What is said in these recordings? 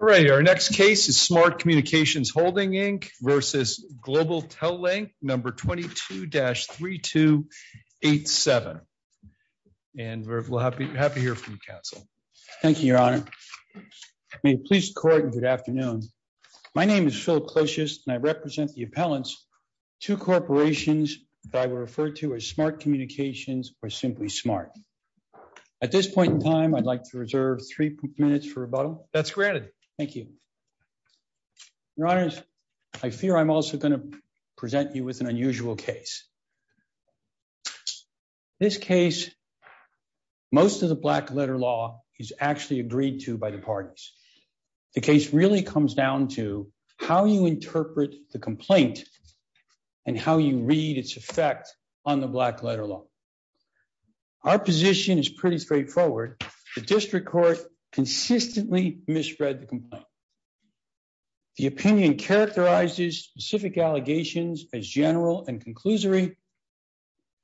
All right, our next case is Smart Communications Holding Inc. v. Global Tel-Link, number 22-3287. And we're happy to hear from you, counsel. Thank you, your honor. May it please the court and good afternoon. My name is Phil Closius, and I represent the appellants to corporations that I would refer to as Smart Communications or simply SMART. At this point in time, I'd like to reserve three minutes for rebuttal. That's granted. Thank you. Your honors, I fear I'm also going to present you with an unusual case. This case, most of the black letter law is actually agreed to by the parties. The case really comes down to how you interpret the complaint and how you read its effect on the black letter law. Our position is pretty straightforward. The district court consistently misread the complaint. The opinion characterizes specific allegations as general and conclusory,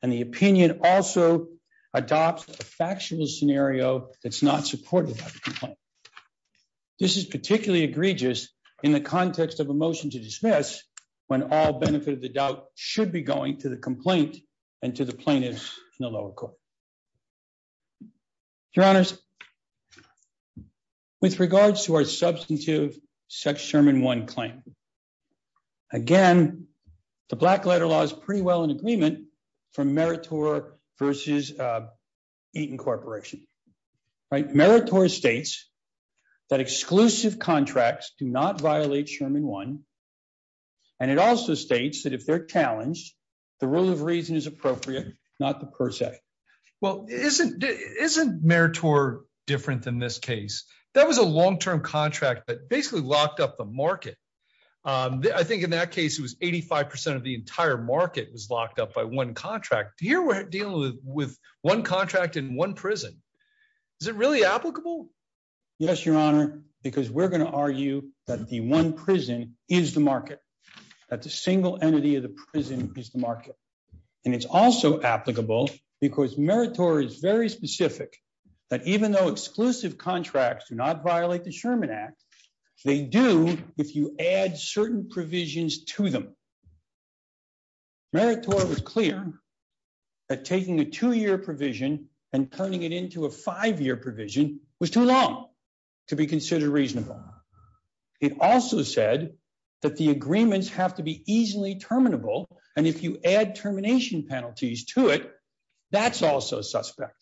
and the opinion also adopts a factual scenario that's not supported by the complaint. This is particularly egregious in the context of a motion to dismiss when all benefit of the doubt should be going to the complaint and to the plaintiffs in the lower court. Your honors, with regards to our substantive sex Sherman One claim, again, the black letter law is pretty well in agreement from Meritor versus Eaton Corporation. Meritor states that exclusive contracts do not violate Sherman One, and it also states that if they're challenged, the rule of reason is appropriate, not the per se. Well, isn't Meritor different than this case? That was a long-term contract that basically locked up the market. I think in that case, it was 85% of the entire market was locked up by one contract. Here we're dealing with one contract in one prison. Is it really applicable? Yes, your honor, because we're going to argue that the one prison is the market, that the single entity of the prison is the market, and it's also applicable because Meritor is very specific that even though exclusive contracts do not violate the Sherman Act, they do if you add certain provisions to them. Meritor was clear that taking a two-year provision and turning it into a five-year provision was too long to be considered reasonable. It also said that the agreements have to be easily terminable, and if you add termination penalties to it, that's also suspect.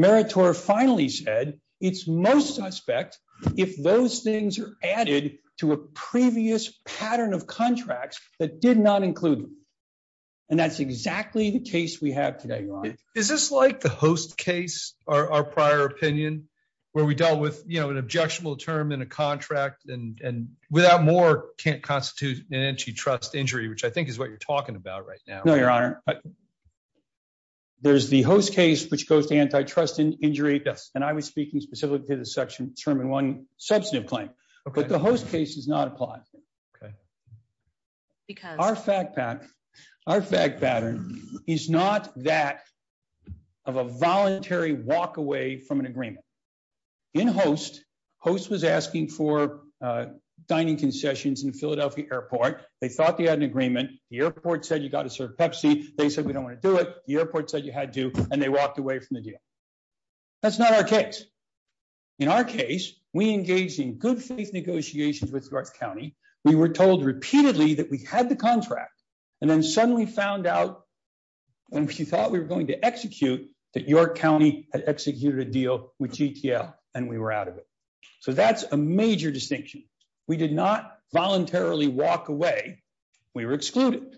Meritor finally said it's most suspect if those things are added to a previous pattern of contracts that did not include them, and that's exactly the case we have today, your honor. Is this like the host case, our prior opinion, where we dealt with an objectionable term in a contract and without more can't constitute an antitrust injury, which I think is what you're talking about right now. No, your honor. There's the host case which goes to antitrust injury, and I was speaking specifically to the section Sherman 1 substantive claim, but the host case does not apply. Our fact pattern is not that of a voluntary walk away from an agreement. In host, host was asking for dining concessions in Philadelphia airport. They thought they had an agreement. The airport said you got to serve Pepsi. They said we don't want to do it. The airport said you had to, and they walked away from the deal. That's not our case. In our case, we engaged in good faith negotiations with North County. We were told repeatedly that we had the contract, and then suddenly found out, and if you thought we were going to execute, that your county had executed a deal with GTL, and we were out of it. So that's a major distinction. We did not voluntarily walk away. We were excluded.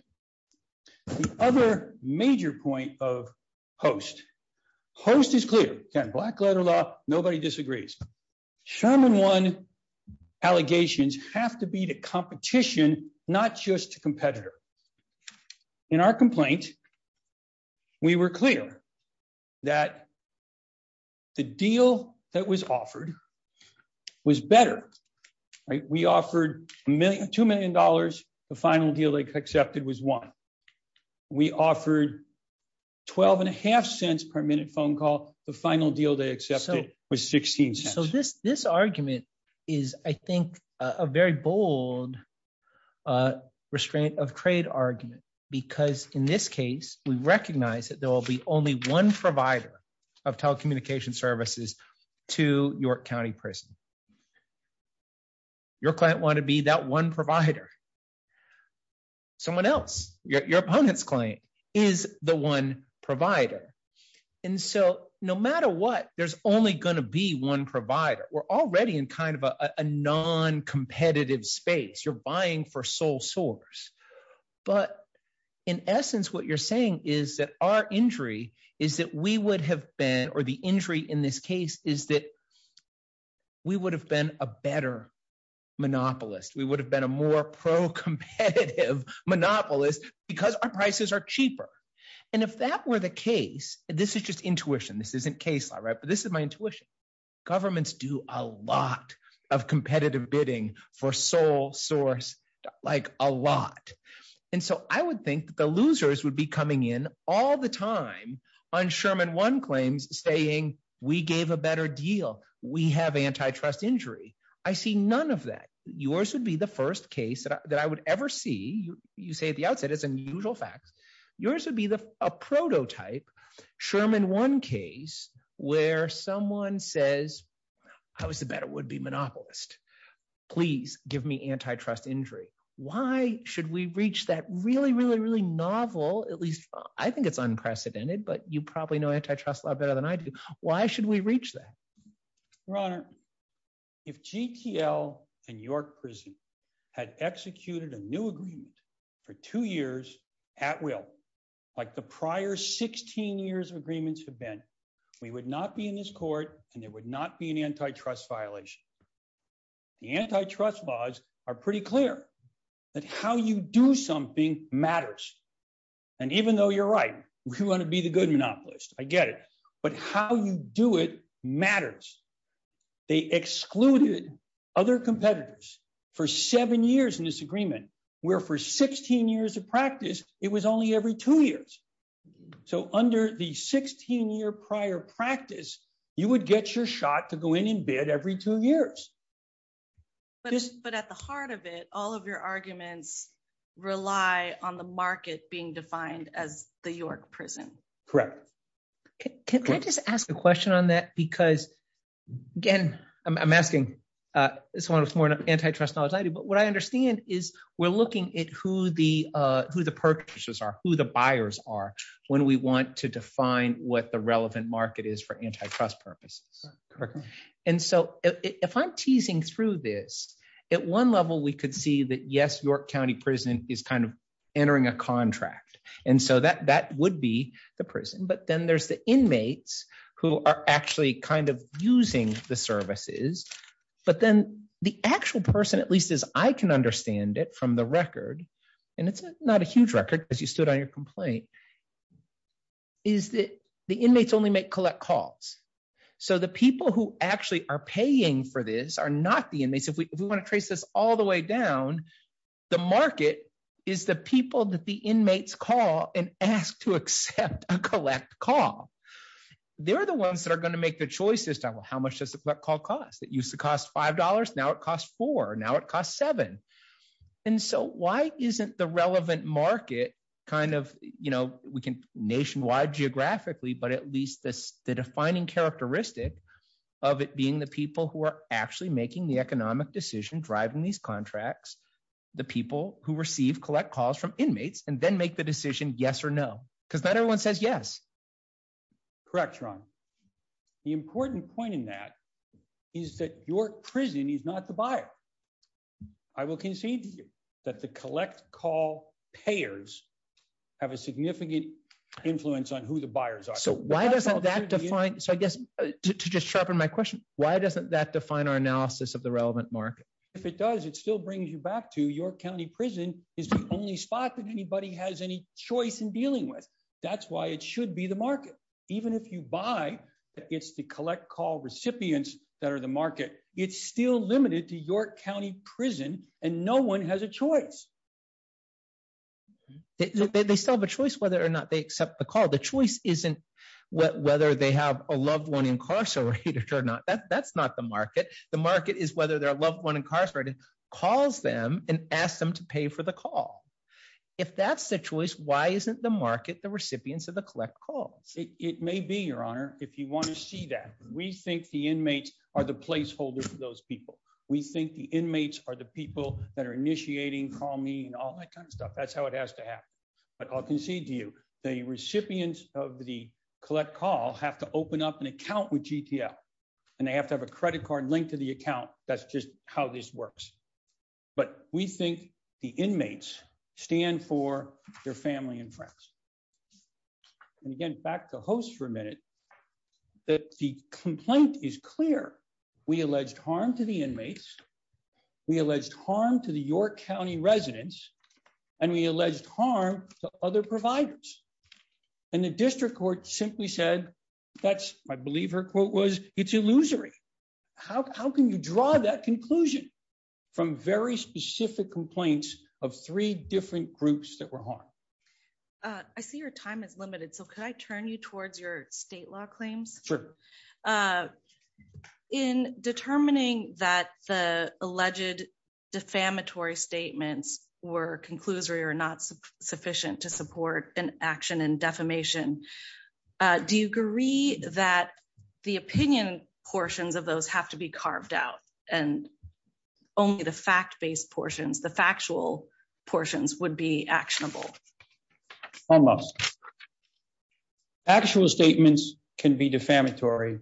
The other major point of host, host is clear. Again, black letter law, nobody disagrees. Sherman 1 allegations have to be to competition, not just to competitor. In our complaint, we were clear that the deal that was offered was better. We offered a million, $2 million. The final deal they accepted was one. We offered 12 and a half cents per minute phone call. The final deal they accepted was 16 cents. So this, this argument is, I think, a very bold restraint of trade argument, because in this case, we recognize that there will be only one provider of telecommunication services to York County Prison. Your client wanted to be that one provider. Someone else, your opponent's client, is the one provider. And so no matter what, there's only going to be one provider. We're already in kind of a non-competitive space. You're buying for sole source. But in essence, what you're saying is that our injury is that we would have been, or the injury in this case is that we would have been a better monopolist. We would have been a more pro-competitive monopolist because our prices are cheaper. And if that were the case, this is just intuition. This isn't case law, right? But this is my like a lot. And so I would think that the losers would be coming in all the time on Sherman One claims saying we gave a better deal. We have antitrust injury. I see none of that. Yours would be the first case that I would ever see. You say at the outset, it's unusual facts. Yours would be a prototype Sherman One case where someone says, I was the better would-be monopolist. Please give me antitrust injury. Why should we reach that really, really, really novel, at least I think it's unprecedented, but you probably know antitrust a lot better than I do. Why should we reach that? Your Honor, if GTL and York prison had executed a new agreement for two years at will, like the prior 16 years of agreements have been, we would not be in this court and there would not be an antitrust violation. The antitrust laws are pretty clear that how you do something matters. And even though you're right, we want to be the good monopolist. I get it. But how you do it matters. They excluded other competitors for seven years in this agreement, where for 16 years of practice, it was only every two years. So under the 16 year prior practice, you would get your shot to go in bed every two years. But at the heart of it, all of your arguments rely on the market being defined as the York prison. Correct. Can I just ask a question on that? Because again, I'm asking someone with more antitrust knowledge, but what I understand is we're looking at who the purchases are, who the buyers are, when we want to define what the relevant market is for antitrust purposes. Correct. And so if I'm teasing through this, at one level, we could see that yes, York County prison is kind of entering a contract. And so that would be the prison, but then there's the inmates who are actually kind of using the services. But then the actual person, at least as I can understand it from the record, and it's not a huge record because you stood on your complaint, is that the inmates only make collect calls. So the people who actually are paying for this are not the inmates. If we want to trace this all the way down, the market is the people that the inmates call and ask to accept a collect call. They're the ones that are going to make the choices about how much does a collect call cost? It used to cost $5, now it costs $4, now it costs $7. And so why isn't the relevant market kind of, we can nationwide geographically, but at least the defining characteristic of it being the people who are actually making the economic decision, driving these contracts, the people who receive collect calls from inmates and then make the decision yes or no, because not everyone says yes. Correct, Ron. The important point in that is that your prison is not the buyer. I will concede to you that the collect call payers have a significant influence on who the buyers are. So why doesn't that define, so I guess, to just sharpen my question, why doesn't that define our analysis of the relevant market? If it does, it still brings you back to your county prison is the only spot that anybody has any choice in dealing with. That's why it should be the market. Even if you buy, it's the collect call recipients that are the market. It's still limited to your county prison and no one has a choice. They still have a choice whether or not they accept the call. The choice isn't whether they have a loved one incarcerated or not. That's not the market. The market is whether their loved one incarcerated calls them and ask them to pay for the call. If that's the choice, why isn't the market the recipients of the collect calls? It may be, your honor, if you want to see that. We think the inmates are the placeholder for those people. We think the inmates are the people that are initiating, call me and all that kind of stuff. That's how it has to happen. But I'll concede to you, the recipients of the collect call have to open up an account with GTL and they have to have a credit card linked to the account. That's just how this works. But we think the inmates stand for their family and friends. And again, back to host for a minute, that the complaint is clear. We alleged harm to the inmates. We alleged harm to the York County residents and we alleged harm to other providers. And the district court simply said, that's, I believe her quote was, it's illusory. How can you draw that conclusion from very specific complaints of three different groups that were harmed? I see your time is limited. So could I turn you towards your state law claims? Sure. In determining that the alleged defamatory statements were conclusory or not sufficient to support an action and defamation, do you agree that the opinion portions of those have to be and only the fact-based portions, the factual portions would be actionable? I must. Actual statements can be defamatory.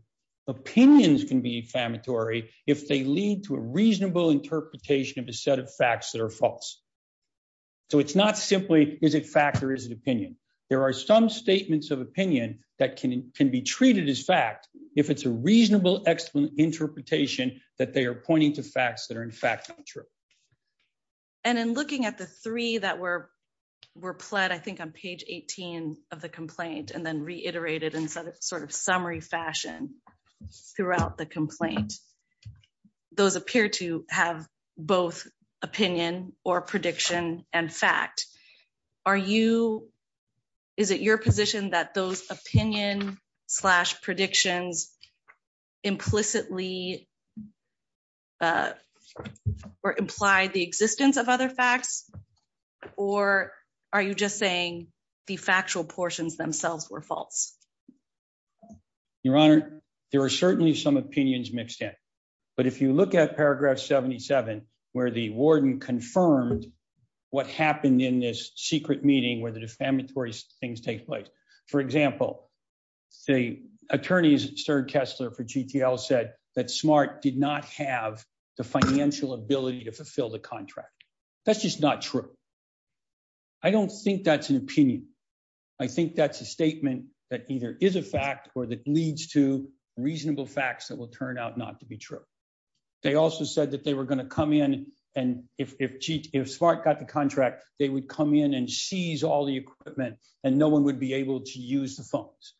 Opinions can be defamatory if they lead to a reasonable interpretation of a set of facts that are false. So it's not simply, is it fact or is it opinion? There are some statements of opinion that can be treated as fact, if it's a reasonable interpretation that they are pointing to facts that are in fact not true. And in looking at the three that were pled, I think on page 18 of the complaint and then reiterated in sort of summary fashion throughout the complaint, those appear to have both opinion or prediction and fact. Is it your position that those opinion slash predictions implicitly or implied the existence of other facts, or are you just saying the factual portions themselves were false? Your Honor, there are certainly some opinions mixed in, but if you look at paragraph 77, where the warden confirmed what happened in this secret meeting where the defamatory things take place. For example, the attorneys at Stern Kessler for GTL said that Smart did not have the financial ability to fulfill the contract. That's just not true. I don't think that's an opinion. I think that's a statement that either is a fact or that leads to reasonable facts that will turn out not to be true. They also said that they were going to come in and if Smart got the equipment and no one would be able to use the phones.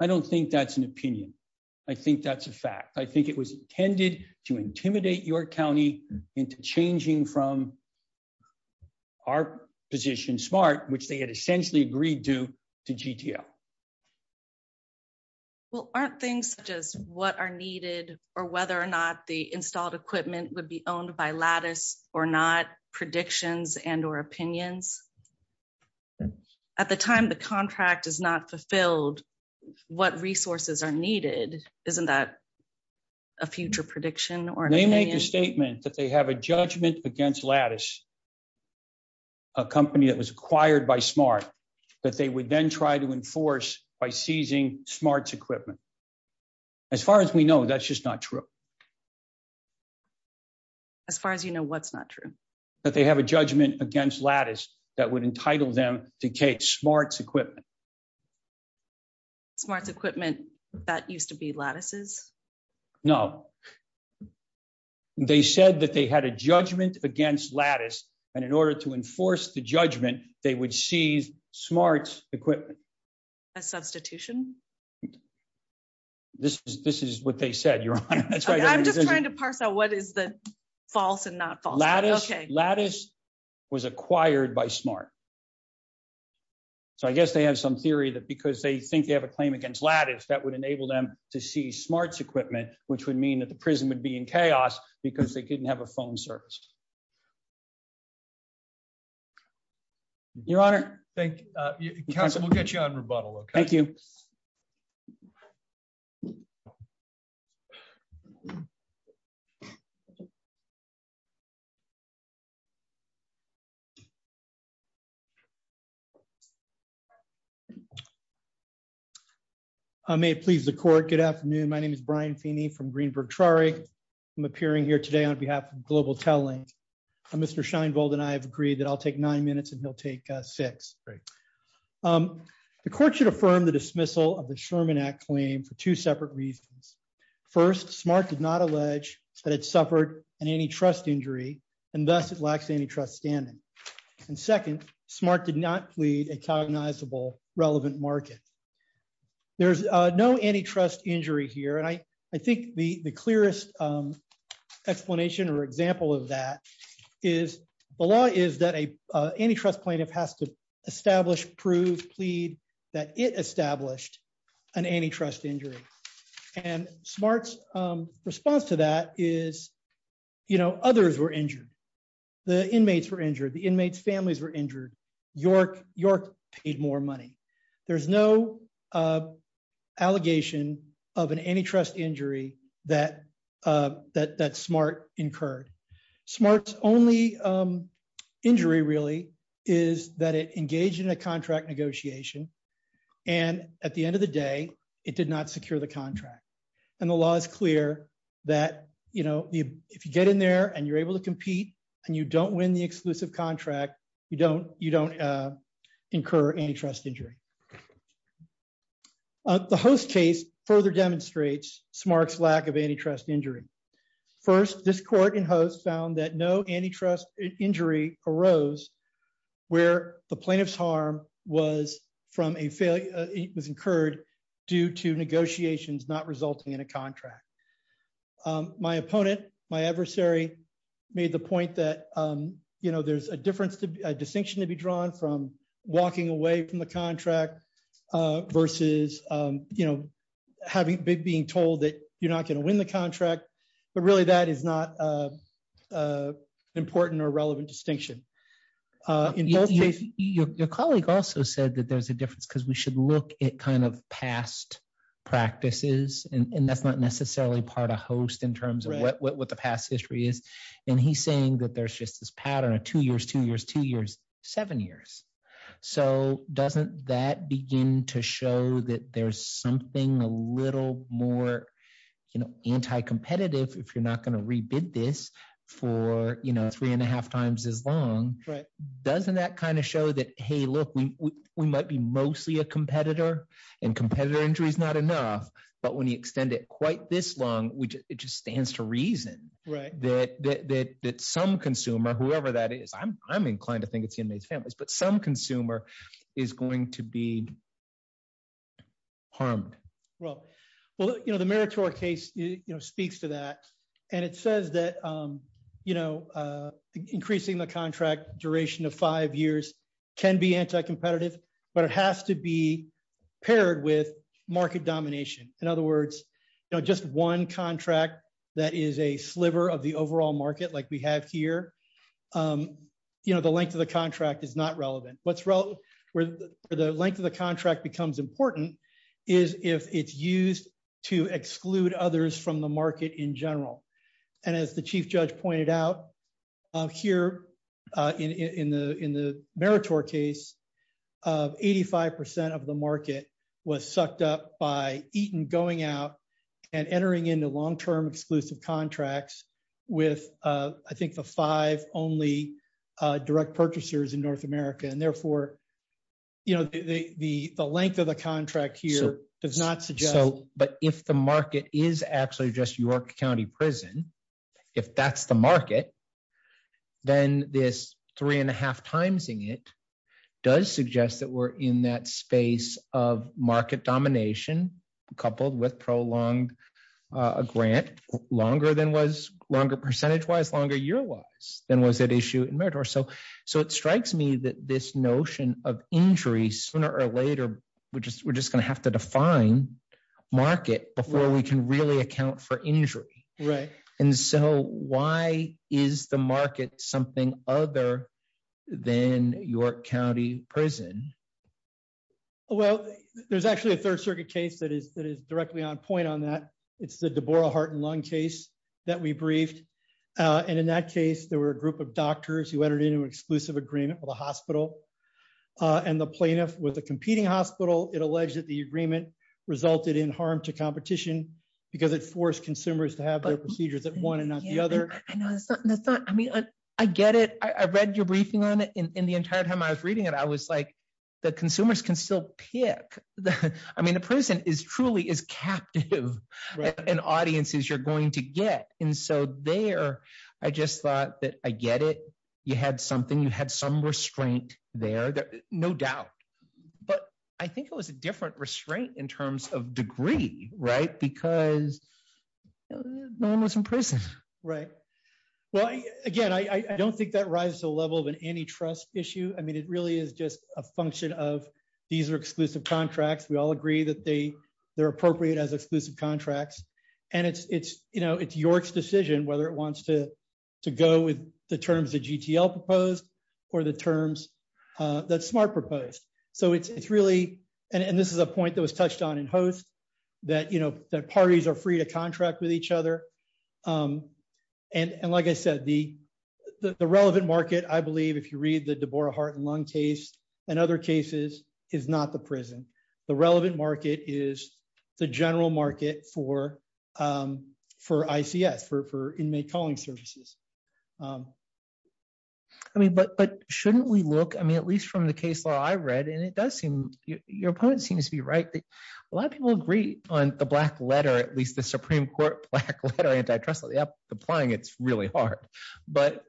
I don't think that's an opinion. I think that's a fact. I think it was intended to intimidate your county into changing from our position, Smart, which they had essentially agreed to, to GTL. Well, aren't things such as what are needed or whether or not the installed equipment would be owned by Lattice or not predictions and or opinions? At the time the contract is not fulfilled, what resources are needed? Isn't that a future prediction? They made the statement that they have a judgment against Lattice, a company that was acquired by Smart, that they would then try to enforce by seizing Smart's equipment. As far as we know, that's just not true. As far as you know, what's not true? That they have a judgment against Lattice that would entitle them to take Smart's equipment. Smart's equipment that used to be Lattice's? No. They said that they had a judgment against Lattice and in order to enforce the judgment, they would seize Smart's equipment. A substitution? This is what they said, Your Honor. I'm just trying to parse out what is the smart. So I guess they have some theory that because they think they have a claim against Lattice, that would enable them to see Smart's equipment, which would mean that the prison would be in chaos because they couldn't have a phone service. Your Honor, thank you. I may please the court. Good afternoon. My name is Brian Feeney from Greenberg Trari. I'm appearing here today on behalf of Global Telling. Mr. Scheinbold and I have agreed that I'll take nine minutes and he'll take six. The court should affirm the dismissal of the Sherman Act claim for two separate reasons. First, Smart did not allege that it suffered an antitrust injury and thus it lacks antitrust standing. And second, Smart did not plead a cognizable relevant market. There's no antitrust injury here. And I think the clearest explanation or example of that is the law is that an antitrust plaintiff has to establish, prove, plead that it established an antitrust injury. And Smart's response to that is, you know, others were injured. The inmates were injured. The inmates' families were injured. York paid more money. There's no allegation of an antitrust injury that Smart incurred. Smart's only injury really is that it engaged in a contract negotiation. And at the end of the day, it did not secure the contract. And the law is clear that, you know, if you get in there and you're able to compete and you don't win the exclusive contract, you don't incur antitrust injury. The Host case further demonstrates Smart's lack of antitrust injury. First, this court in Host found that no antitrust injury arose where the plaintiff's harm was incurred due to negotiations not resulting in a contract. My opponent, my adversary, made the point that, you know, there's a distinction to be drawn from walking away from the contract versus, you know, being told that you're not going to win the contract. But really, that is not an important or relevant distinction. In both cases, your colleague also said that there's a difference because we should look at kind of past practices. And that's not necessarily part of Host in terms of what the past history is. And he's saying that there's just this pattern of two years, two years, two years, seven years. So doesn't that begin to show that there's something a little more, you know, anti-competitive if you're not going to rebid this for, you know, three and a half times as long? Doesn't that kind of show that, hey, look, we might be mostly a competitor, and competitor injury is not enough. But when you extend it quite this long, which it just stands to reason that some consumer, whoever that is, I'm inclined to think it's inmates, families, but some consumer is going to be harmed. Well, well, you know, the meritorious case, you know, speaks to that. And it says that, you know, increasing the contract duration of five years can be anti-competitive, but it has to be paired with market domination. In other words, you know, just one contract that is a sliver of the overall market like we have here, you know, the length of the contract is not relevant. What's relevant where the length of the contract becomes important is if it's used to exclude others from the market in general. And as the Chief Judge pointed out here in the meritorious case, 85% of the market was sucked up by Eaton going out and entering into long-term exclusive contracts with, I think, the five only direct purchasers in North America. And therefore, you know, the length of the contract here does not suggest... So, but if the market is actually just York County prison, if that's the market, then this three and a half timesing it does suggest that we're in that space of market domination coupled with prolonged grant longer than was, longer percentage-wise, longer year-wise than was at issue in meritorious. So it strikes me that this notion of injury sooner or later, we're just going to have to define market before we can really account for injury. Right. And so why is the market something other than York County prison? Well, there's actually a third circuit case that is directly on point on that. It's the Laurel Heart and Lung case that we briefed. And in that case, there were a group of doctors who entered into an exclusive agreement with a hospital and the plaintiff with a competing hospital. It alleged that the agreement resulted in harm to competition because it forced consumers to have their procedures at one and not the other. I know, that's not... I mean, I get it. I read your briefing on it and the entire time I was reading it, I was like, the consumers can still pick. I mean, the prison is truly is captive and audiences you're going to get. And so there, I just thought that I get it. You had something, you had some restraint there, no doubt. But I think it was a different restraint in terms of degree, right? Because no one was in prison. Right. Well, again, I don't think that rises to the level of an antitrust issue. I mean, it really is just a function of these are exclusive contracts. We all agree that they are appropriate as exclusive contracts. And it's York's decision whether it wants to go with the terms that GTL proposed or the terms that Smart proposed. So it's really... And this is a point that was touched on in Host, that parties are free to contract with each other. And like I said, the relevant market, I believe, if you read the Debora Heart and Lung case and other cases, is not the prison. The relevant market is the general market for ICS, for inmate calling services. I mean, but shouldn't we look, I mean, at least from the case law I read, and it does seem, your opponent seems to be right, that a lot of people agree on the black letter, at least the Supreme Court black letter antitrust law, applying it's really hard. But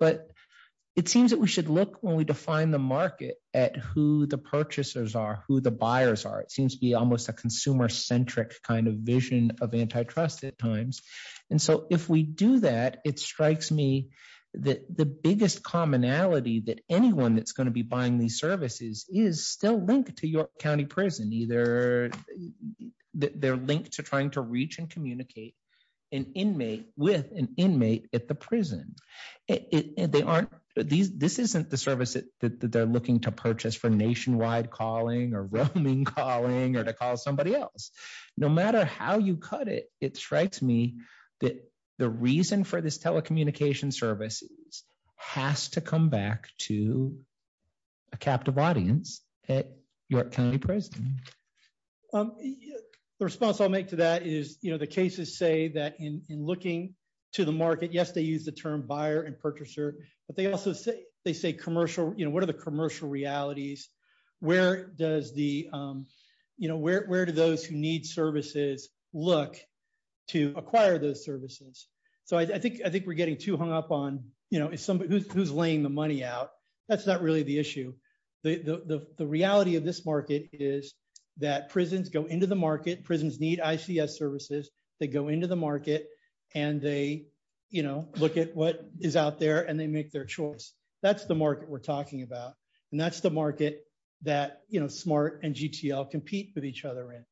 it seems that we should look when we define the market at who the purchasers are, who the buyers are. It seems to be almost a consumer centric kind of vision of antitrust at times. And so if we do that, it strikes me that the biggest commonality that anyone that's going to be buying these services is still linked to York County Prison. Either they're linked to trying to reach and communicate with an inmate at the prison. This isn't the service that they're looking to purchase for nationwide calling or roaming calling or to call somebody else. No matter how you cut it, it strikes me that the reason for this telecommunication services has to come back to a captive audience at York County Prison. Um, the response I'll make to that is, you know, the cases say that in looking to the market, yes, they use the term buyer and purchaser. But they also say they say commercial, you know, what are the commercial realities? Where does the, you know, where do those who need services look to acquire those services? So I think I think we're getting too hung up on, you know, it's somebody who's laying the money out. That's not really the issue. The reality of this market is that prisons go into the market, prisons need ICS services, they go into the market, and they, you know, look at what is out there and they make their choice. That's the market we're talking about. And that's the market that, you know, SMART and GTL compete with each other in.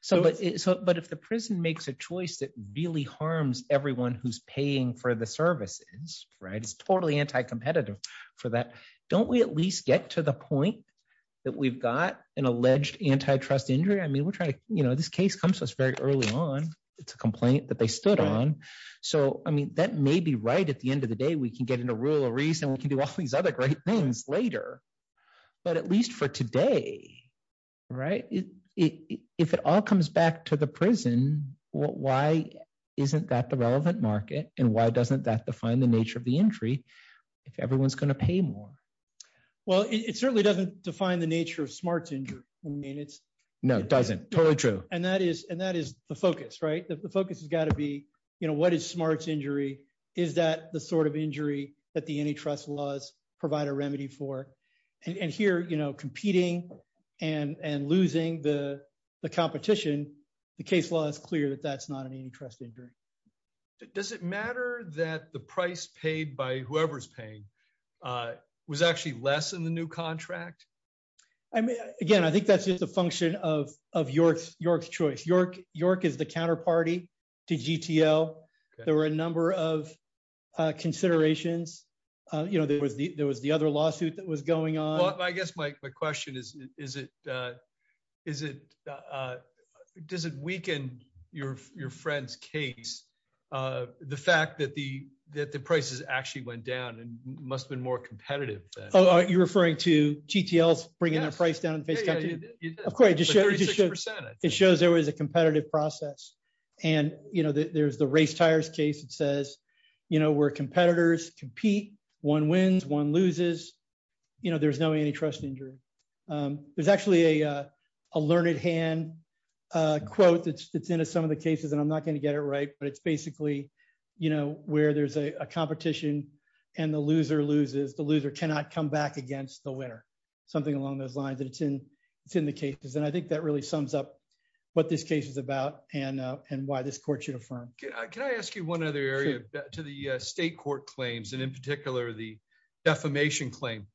So, but if the prison makes a choice that really harms everyone who's paying for the services, right, it's totally anti-competitive for that. Don't we at least get to the point that we've got an alleged antitrust injury? I mean, we're trying to, you know, this case comes to us very early on. It's a complaint that they stood on. So I mean, that may be right at the end of the day, we can get into rule of reason, we can do all these other great things later. But at least for today, right? If it all comes back to the prison, why isn't that the relevant market? And why doesn't that define the nature of the injury? If everyone's going to pay more? Well, it certainly doesn't define the nature of SMART's injury. I mean, it's... No, it doesn't. Totally true. And that is the focus, right? The focus has got to be, you know, what is SMART's injury? Is that the sort of injury that the antitrust laws provide a remedy for? And here, you know, competing and losing the competition, the case law is clear that that's not an antitrust injury. Does it matter that the price paid by whoever's paying was actually less than the new contract? I mean, again, I think that's just a function of York's choice. York is the counterparty to GTL. There were a number of considerations. You know, there was the other lawsuit that was the fact that the prices actually went down and must have been more competitive. Oh, you're referring to GTLs bringing their price down in the face of country? Of course. It shows there was a competitive process. And, you know, there's the race tires case that says, you know, where competitors compete, one wins, one loses, you know, there's no antitrust injury. There's actually a learned hand quote that's in some of the cases, I'm not going to get it right. But it's basically, you know, where there's a competition, and the loser loses, the loser cannot come back against the winner, something along those lines, and it's in, it's in the cases. And I think that really sums up what this case is about. And, and why this court should affirm. Can I ask you one other area to the state court claims, and in particular, the defamation claim?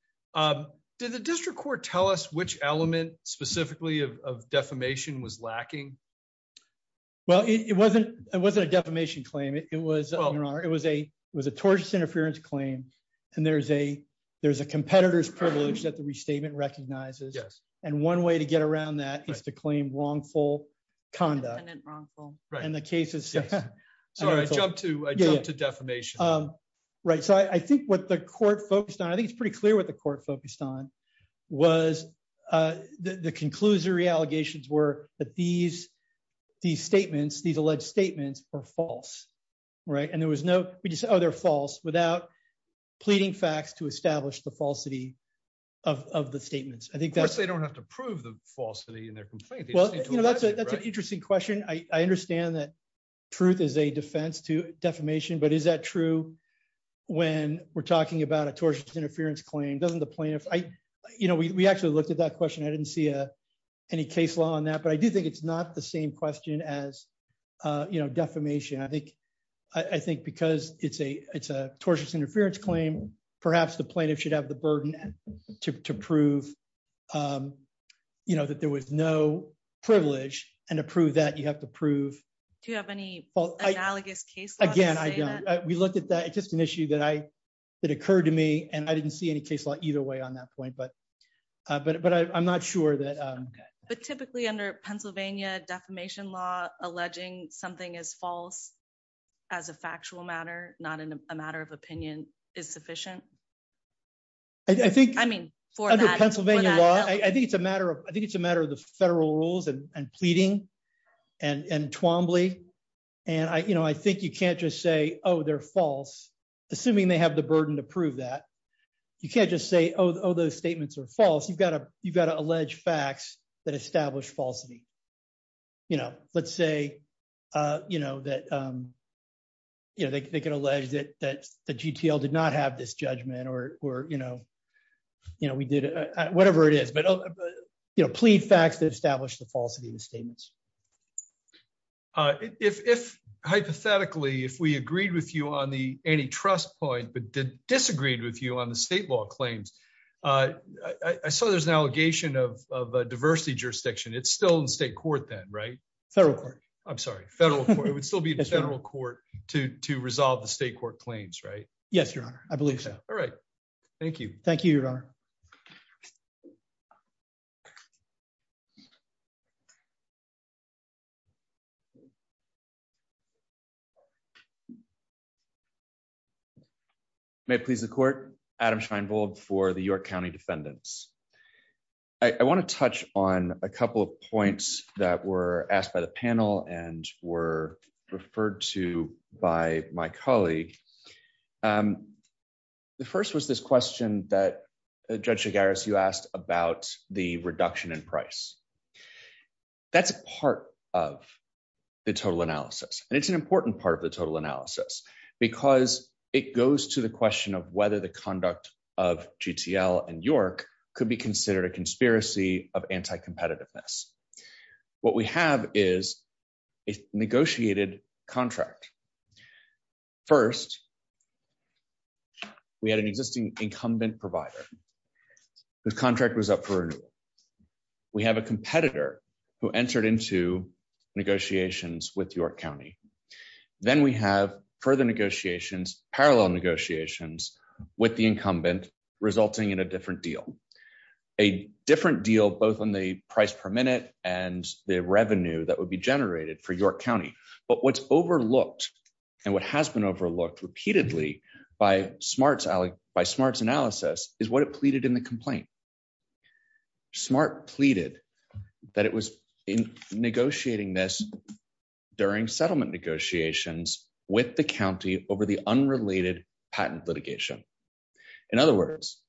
Did the district court tell us which element specifically of defamation was lacking? Well, it wasn't, it wasn't a defamation claim, it was, it was a was a tortious interference claim. And there's a, there's a competitor's privilege that the restatement recognizes. Yes. And one way to get around that is to claim wrongful conduct and wrongful in the cases. So I jumped to defamation. Right. So I think what the court focused on, I think it's pretty clear what the conclusory allegations were that these, these statements, these alleged statements are false. Right. And there was no other false without pleading facts to establish the falsity of the statements. I think that they don't have to prove the falsity in their complaint. Well, that's an interesting question. I understand that truth is a defense to defamation. But is that true? When we're talking about a tortuous interference claim doesn't the plaintiff I, we actually looked at that question, I didn't see any case law on that. But I do think it's not the same question as, you know, defamation, I think, I think, because it's a it's a tortious interference claim, perhaps the plaintiff should have the burden to prove, you know, that there was no privilege and approve that you have to prove to have any analogous case. Again, we looked at that just an issue that I that occurred to me, and I didn't see any case law either way on that point. But, but, but I'm not sure that. But typically, under Pennsylvania defamation law, alleging something is false, as a factual matter, not in a matter of opinion is sufficient. I think I mean, for Pennsylvania law, I think it's a matter of I think it's a matter of the federal rules and pleading and Twombly. And I you know, I think you can't just say, oh, they're false, assuming they have the burden to prove that you can't just say, oh, those statements are false, you've got to you've got to allege facts that establish falsity. You know, let's say, you know, that, you know, they can allege that that the GTL did not have this judgment, or, you know, you know, we did, whatever it is, but, you know, plead facts that establish the falsity of the statements. If hypothetically, if we agreed with you on the antitrust point, but disagreed with you on the state law claims, I saw there's an allegation of diversity jurisdiction, it's still in state court, then right? Federal Court, I'm sorry, federal, it would still be a federal court to resolve the state court claims, right? Yes, Your Honor, I believe so. All right. May it please the court, Adam Scheinbold for the York County defendants. I want to touch on a couple of points that were asked by the panel and were referred to by my colleague. The first was this question that Judge Chigaris, you asked about the reduction in price. That's part of the total analysis. And it's an important part of the total analysis, because it goes to the question of whether the conduct of GTL and York could be considered a First, we had an existing incumbent provider whose contract was up for renewal. We have a competitor who entered into negotiations with York County. Then we have further negotiations, parallel negotiations with the incumbent, resulting in a different deal, a different deal, both on the price per minute and the revenue that would be generated for York County. But what's overlooked repeatedly by SMART's analysis is what it pleaded in the complaint. SMART pleaded that it was in negotiating this during settlement negotiations with the county over the unrelated patent litigation. In other words,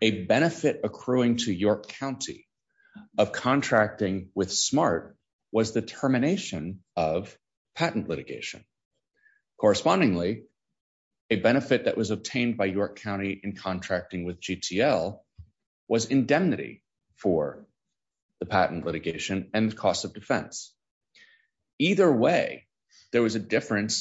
a benefit accruing to York County of contracting with SMART was the termination of patent litigation. Correspondingly, a benefit that was obtained by York County in contracting with GTL was indemnity for the patent litigation and the cost of defense. Either way, there was a different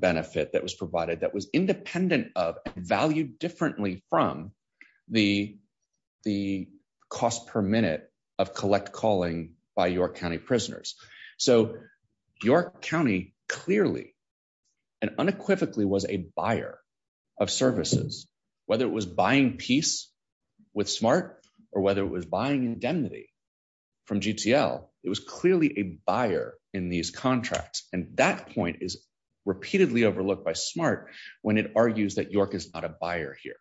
benefit that was independent of and valued differently from the cost per minute of collect calling by York County prisoners. York County clearly and unequivocally was a buyer of services, whether it was buying peace with SMART or whether it was buying indemnity from GTL. It was clearly a buyer in these contracts, and that point is repeatedly overlooked by SMART when it argues that York is not a buyer here.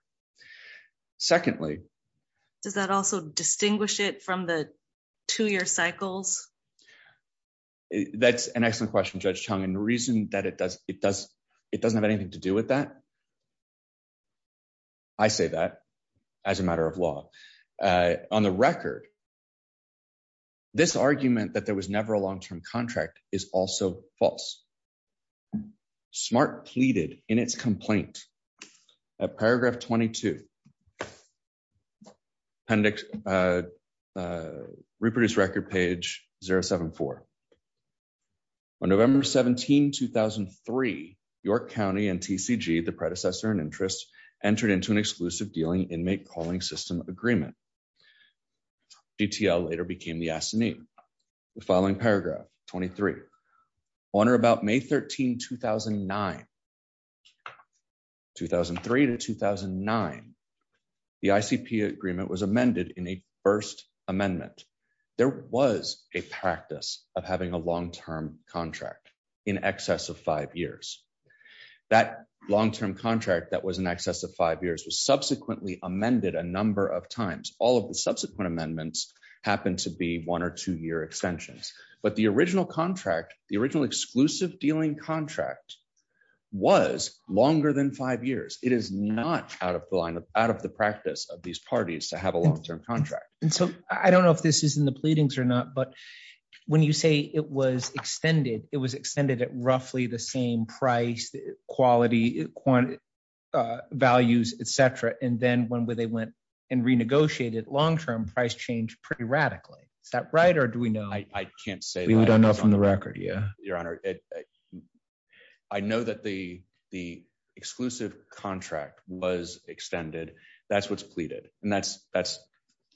Secondly- Does that also distinguish it from the two-year cycles? That's an excellent question, Judge Chung, and the reason that it doesn't have anything to do with that, I say that as a matter of law. On the record, this argument that there was never a long-term contract is also false. SMART pleaded in its complaint at paragraph 22, appendix, uh, reproduce record page 074. On November 17, 2003, York County and TCG, the predecessor in interest, entered into an exclusive dealing inmate calling system agreement. GTL later became the assignee. The following paragraph, 23, on or about May 13, 2009, 2003 to 2009, the ICP agreement was amended in a first amendment. There was a practice of having a long-term contract in excess of five years. That long-term contract that was in excess of five years was subsequently amended a number of times. All of the subsequent amendments happened to be one- or two-year extensions, but the original contract, the original exclusive dealing contract was longer than five years. It is not out of the line of, out of the practice of these parties to have a long-term contract. And so, I don't know if this is in the pleadings or not, but when you say it was extended, it was extended at roughly the same price, quality, uh, values, et cetera, and then when they went and renegotiated long-term, price changed pretty radically. Is that or do we know? I can't say that. We don't know from the record. Yeah. Your Honor, I know that the, the exclusive contract was extended. That's what's pleaded. And that's, that's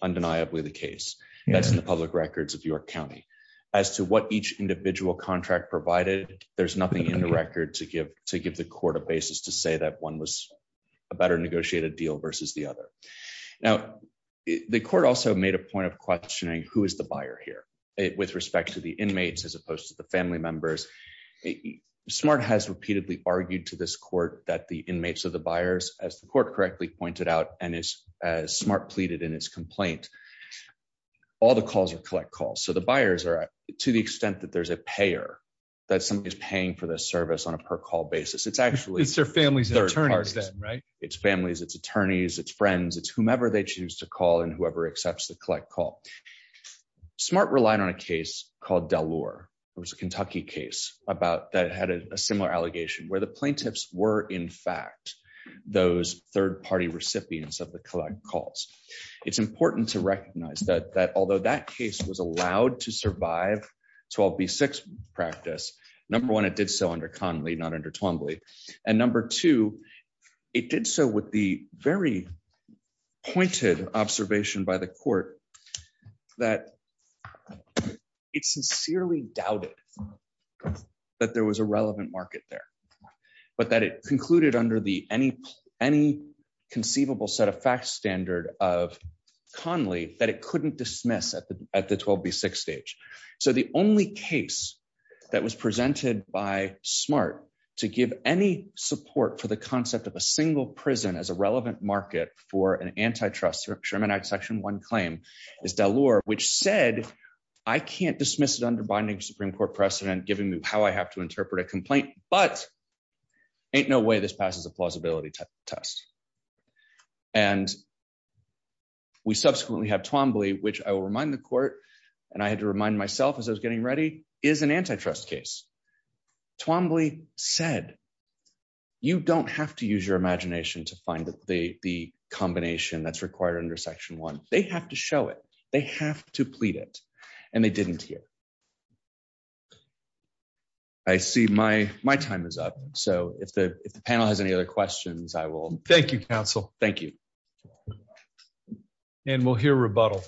undeniably the case. That's in the public records of York County. As to what each individual contract provided, there's nothing in the record to give, to give the court a basis to say that one was a better negotiated deal versus the other. Now, the court also made a point of questioning who is the buyer here with respect to the inmates, as opposed to the family members. SMART has repeatedly argued to this court that the inmates of the buyers, as the court correctly pointed out, and as SMART pleaded in its complaint, all the calls are collect calls. So, the buyers are, to the extent that there's a payer, that somebody is paying for the service on a per call basis. It's actually, it's their families, their attorneys, right? It's families, it's attorneys, it's friends, it's whomever they choose to call and whoever accepts the collect call. SMART relied on a case called Delor. It was a Kentucky case about, that had a similar allegation, where the plaintiffs were, in fact, those third-party recipients of the collect calls. It's important to recognize that, that although that case was allowed to survive 12B6 practice, number one, it did so under Conley, not under Twombly. And number two, it did so with the very pointed observation by the court, that it sincerely doubted that there was a relevant market there, but that it concluded under the, any conceivable set of facts standard of Conley, that it couldn't dismiss at the 12B6 stage. So, the only case that was presented by SMART to give any support for the concept of a single prison as a relevant market for an antitrust, Sherman Act section one claim, is Delor, which said, I can't dismiss it under binding Supreme Court precedent, giving me how I have to interpret a complaint, but ain't no way this passes a plausibility test. And we subsequently have Twombly, which I will remind the court, and I had to remind myself as getting ready, is an antitrust case. Twombly said, you don't have to use your imagination to find the combination that's required under section one. They have to show it. They have to plead it. And they didn't here. I see my time is up. So, if the panel has any other questions, I will. Thank you, counsel. Thank you. And we'll hear rebuttal.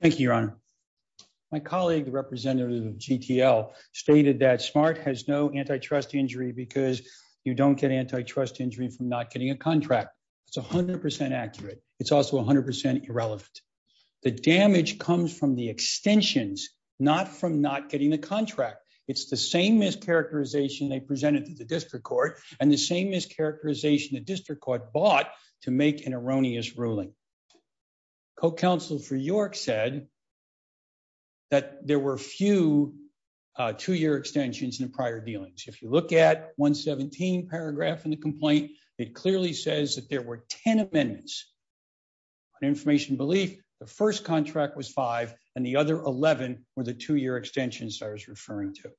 Thank you, your honor. My colleague, the representative of GTL, stated that SMART has no antitrust injury because you don't get antitrust injury from not getting a contract. It's 100% accurate. It's also 100% irrelevant. The damage comes from the extensions, not from not getting the contract. It's the same mischaracterization they presented to the district court and the same mischaracterization the district court bought to make an erroneous ruling. Co-counsel for York said that there were few two-year extensions in prior dealings. If you look at 117 paragraph in the complaint, it clearly says that there were 10 amendments on information belief. The first contract was five, and the other 11 were the two-year extensions I was referring to.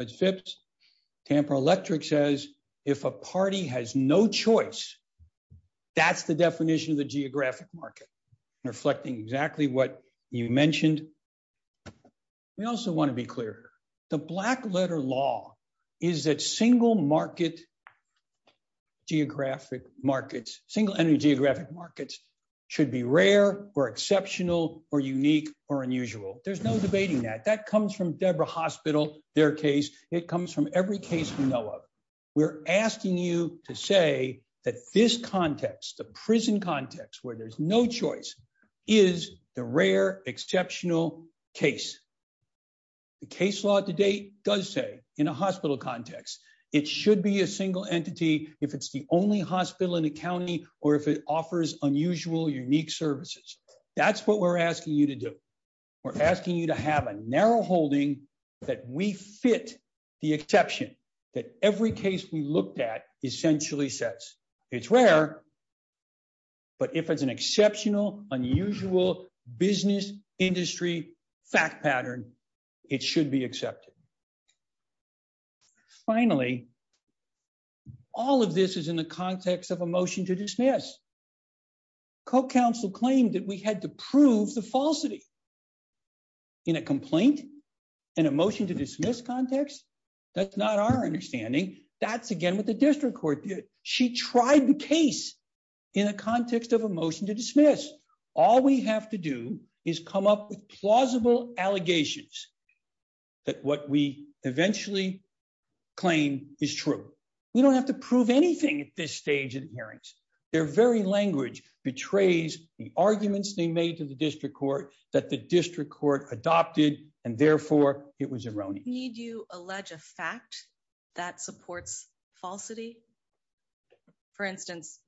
Judge Phipps, Tamper Electric says if a party has no choice, that's the definition of the geographic market, reflecting exactly what you mentioned. We also want to be clear. The black letter law is that single-market geographic markets, single-ended geographic markets should be rare or exceptional or unique or unusual. There's no debating that. That comes from Deborah Hospital, their case. It comes from every case we know of. We're asking you to say that this context, the prison context where there's no choice, is the rare exceptional case. The case law to date does say in a hospital context, it should be a single entity if it's the only hospital in a county or if it offers unusual, unique services. That's what we're asking you to do. We're asking you to have a narrow holding that we fit the exception that every case we looked at essentially says it's rare, but if it's an exceptional, unusual business industry fact pattern, it should be accepted. Finally, all of this is in the context of a motion to dismiss. Co-counsel claimed that we had to prove the falsity in a complaint, in a motion to dismiss context. That's not our understanding. That's again with the district court. She tried the case in a context of a motion to dismiss. All we have to do is come up with plausible allegations that what we eventually claim is true. We don't have to prove anything at this stage in hearings. Their very language betrays the arguments they made to the district court that the district court adopted and therefore it was erroneous. Need you allege a fact that supports falsity? For instance,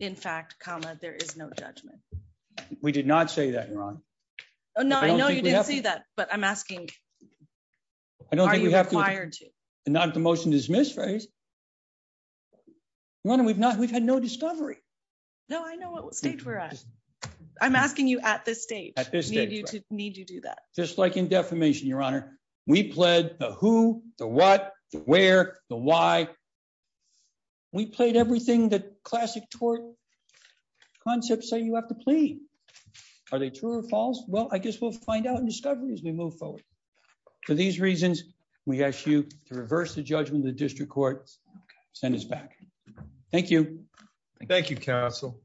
in fact, comma, there is no judgment. We did not say that, Yaronne. No, I know you didn't see that, but I'm asking, are you required to? Not at the motion to dismiss phase. Yaronne, we've had no discovery. No, I know what stage we're at. I'm asking you at this stage. At this stage, right. Need you to do that. Just like in defamation, Your Honor, we pled the who, the what, the where, the why. We pled everything that classic tort concepts say you have to plead. Are they true or false? Well, we'll find out in discovery as we move forward. For these reasons, we ask you to reverse the judgment of the district court. Send us back. Thank you. Thank you, counsel.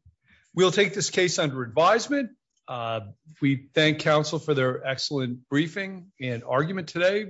We'll take this case under advisement. We thank counsel for their excellent briefing and argument today.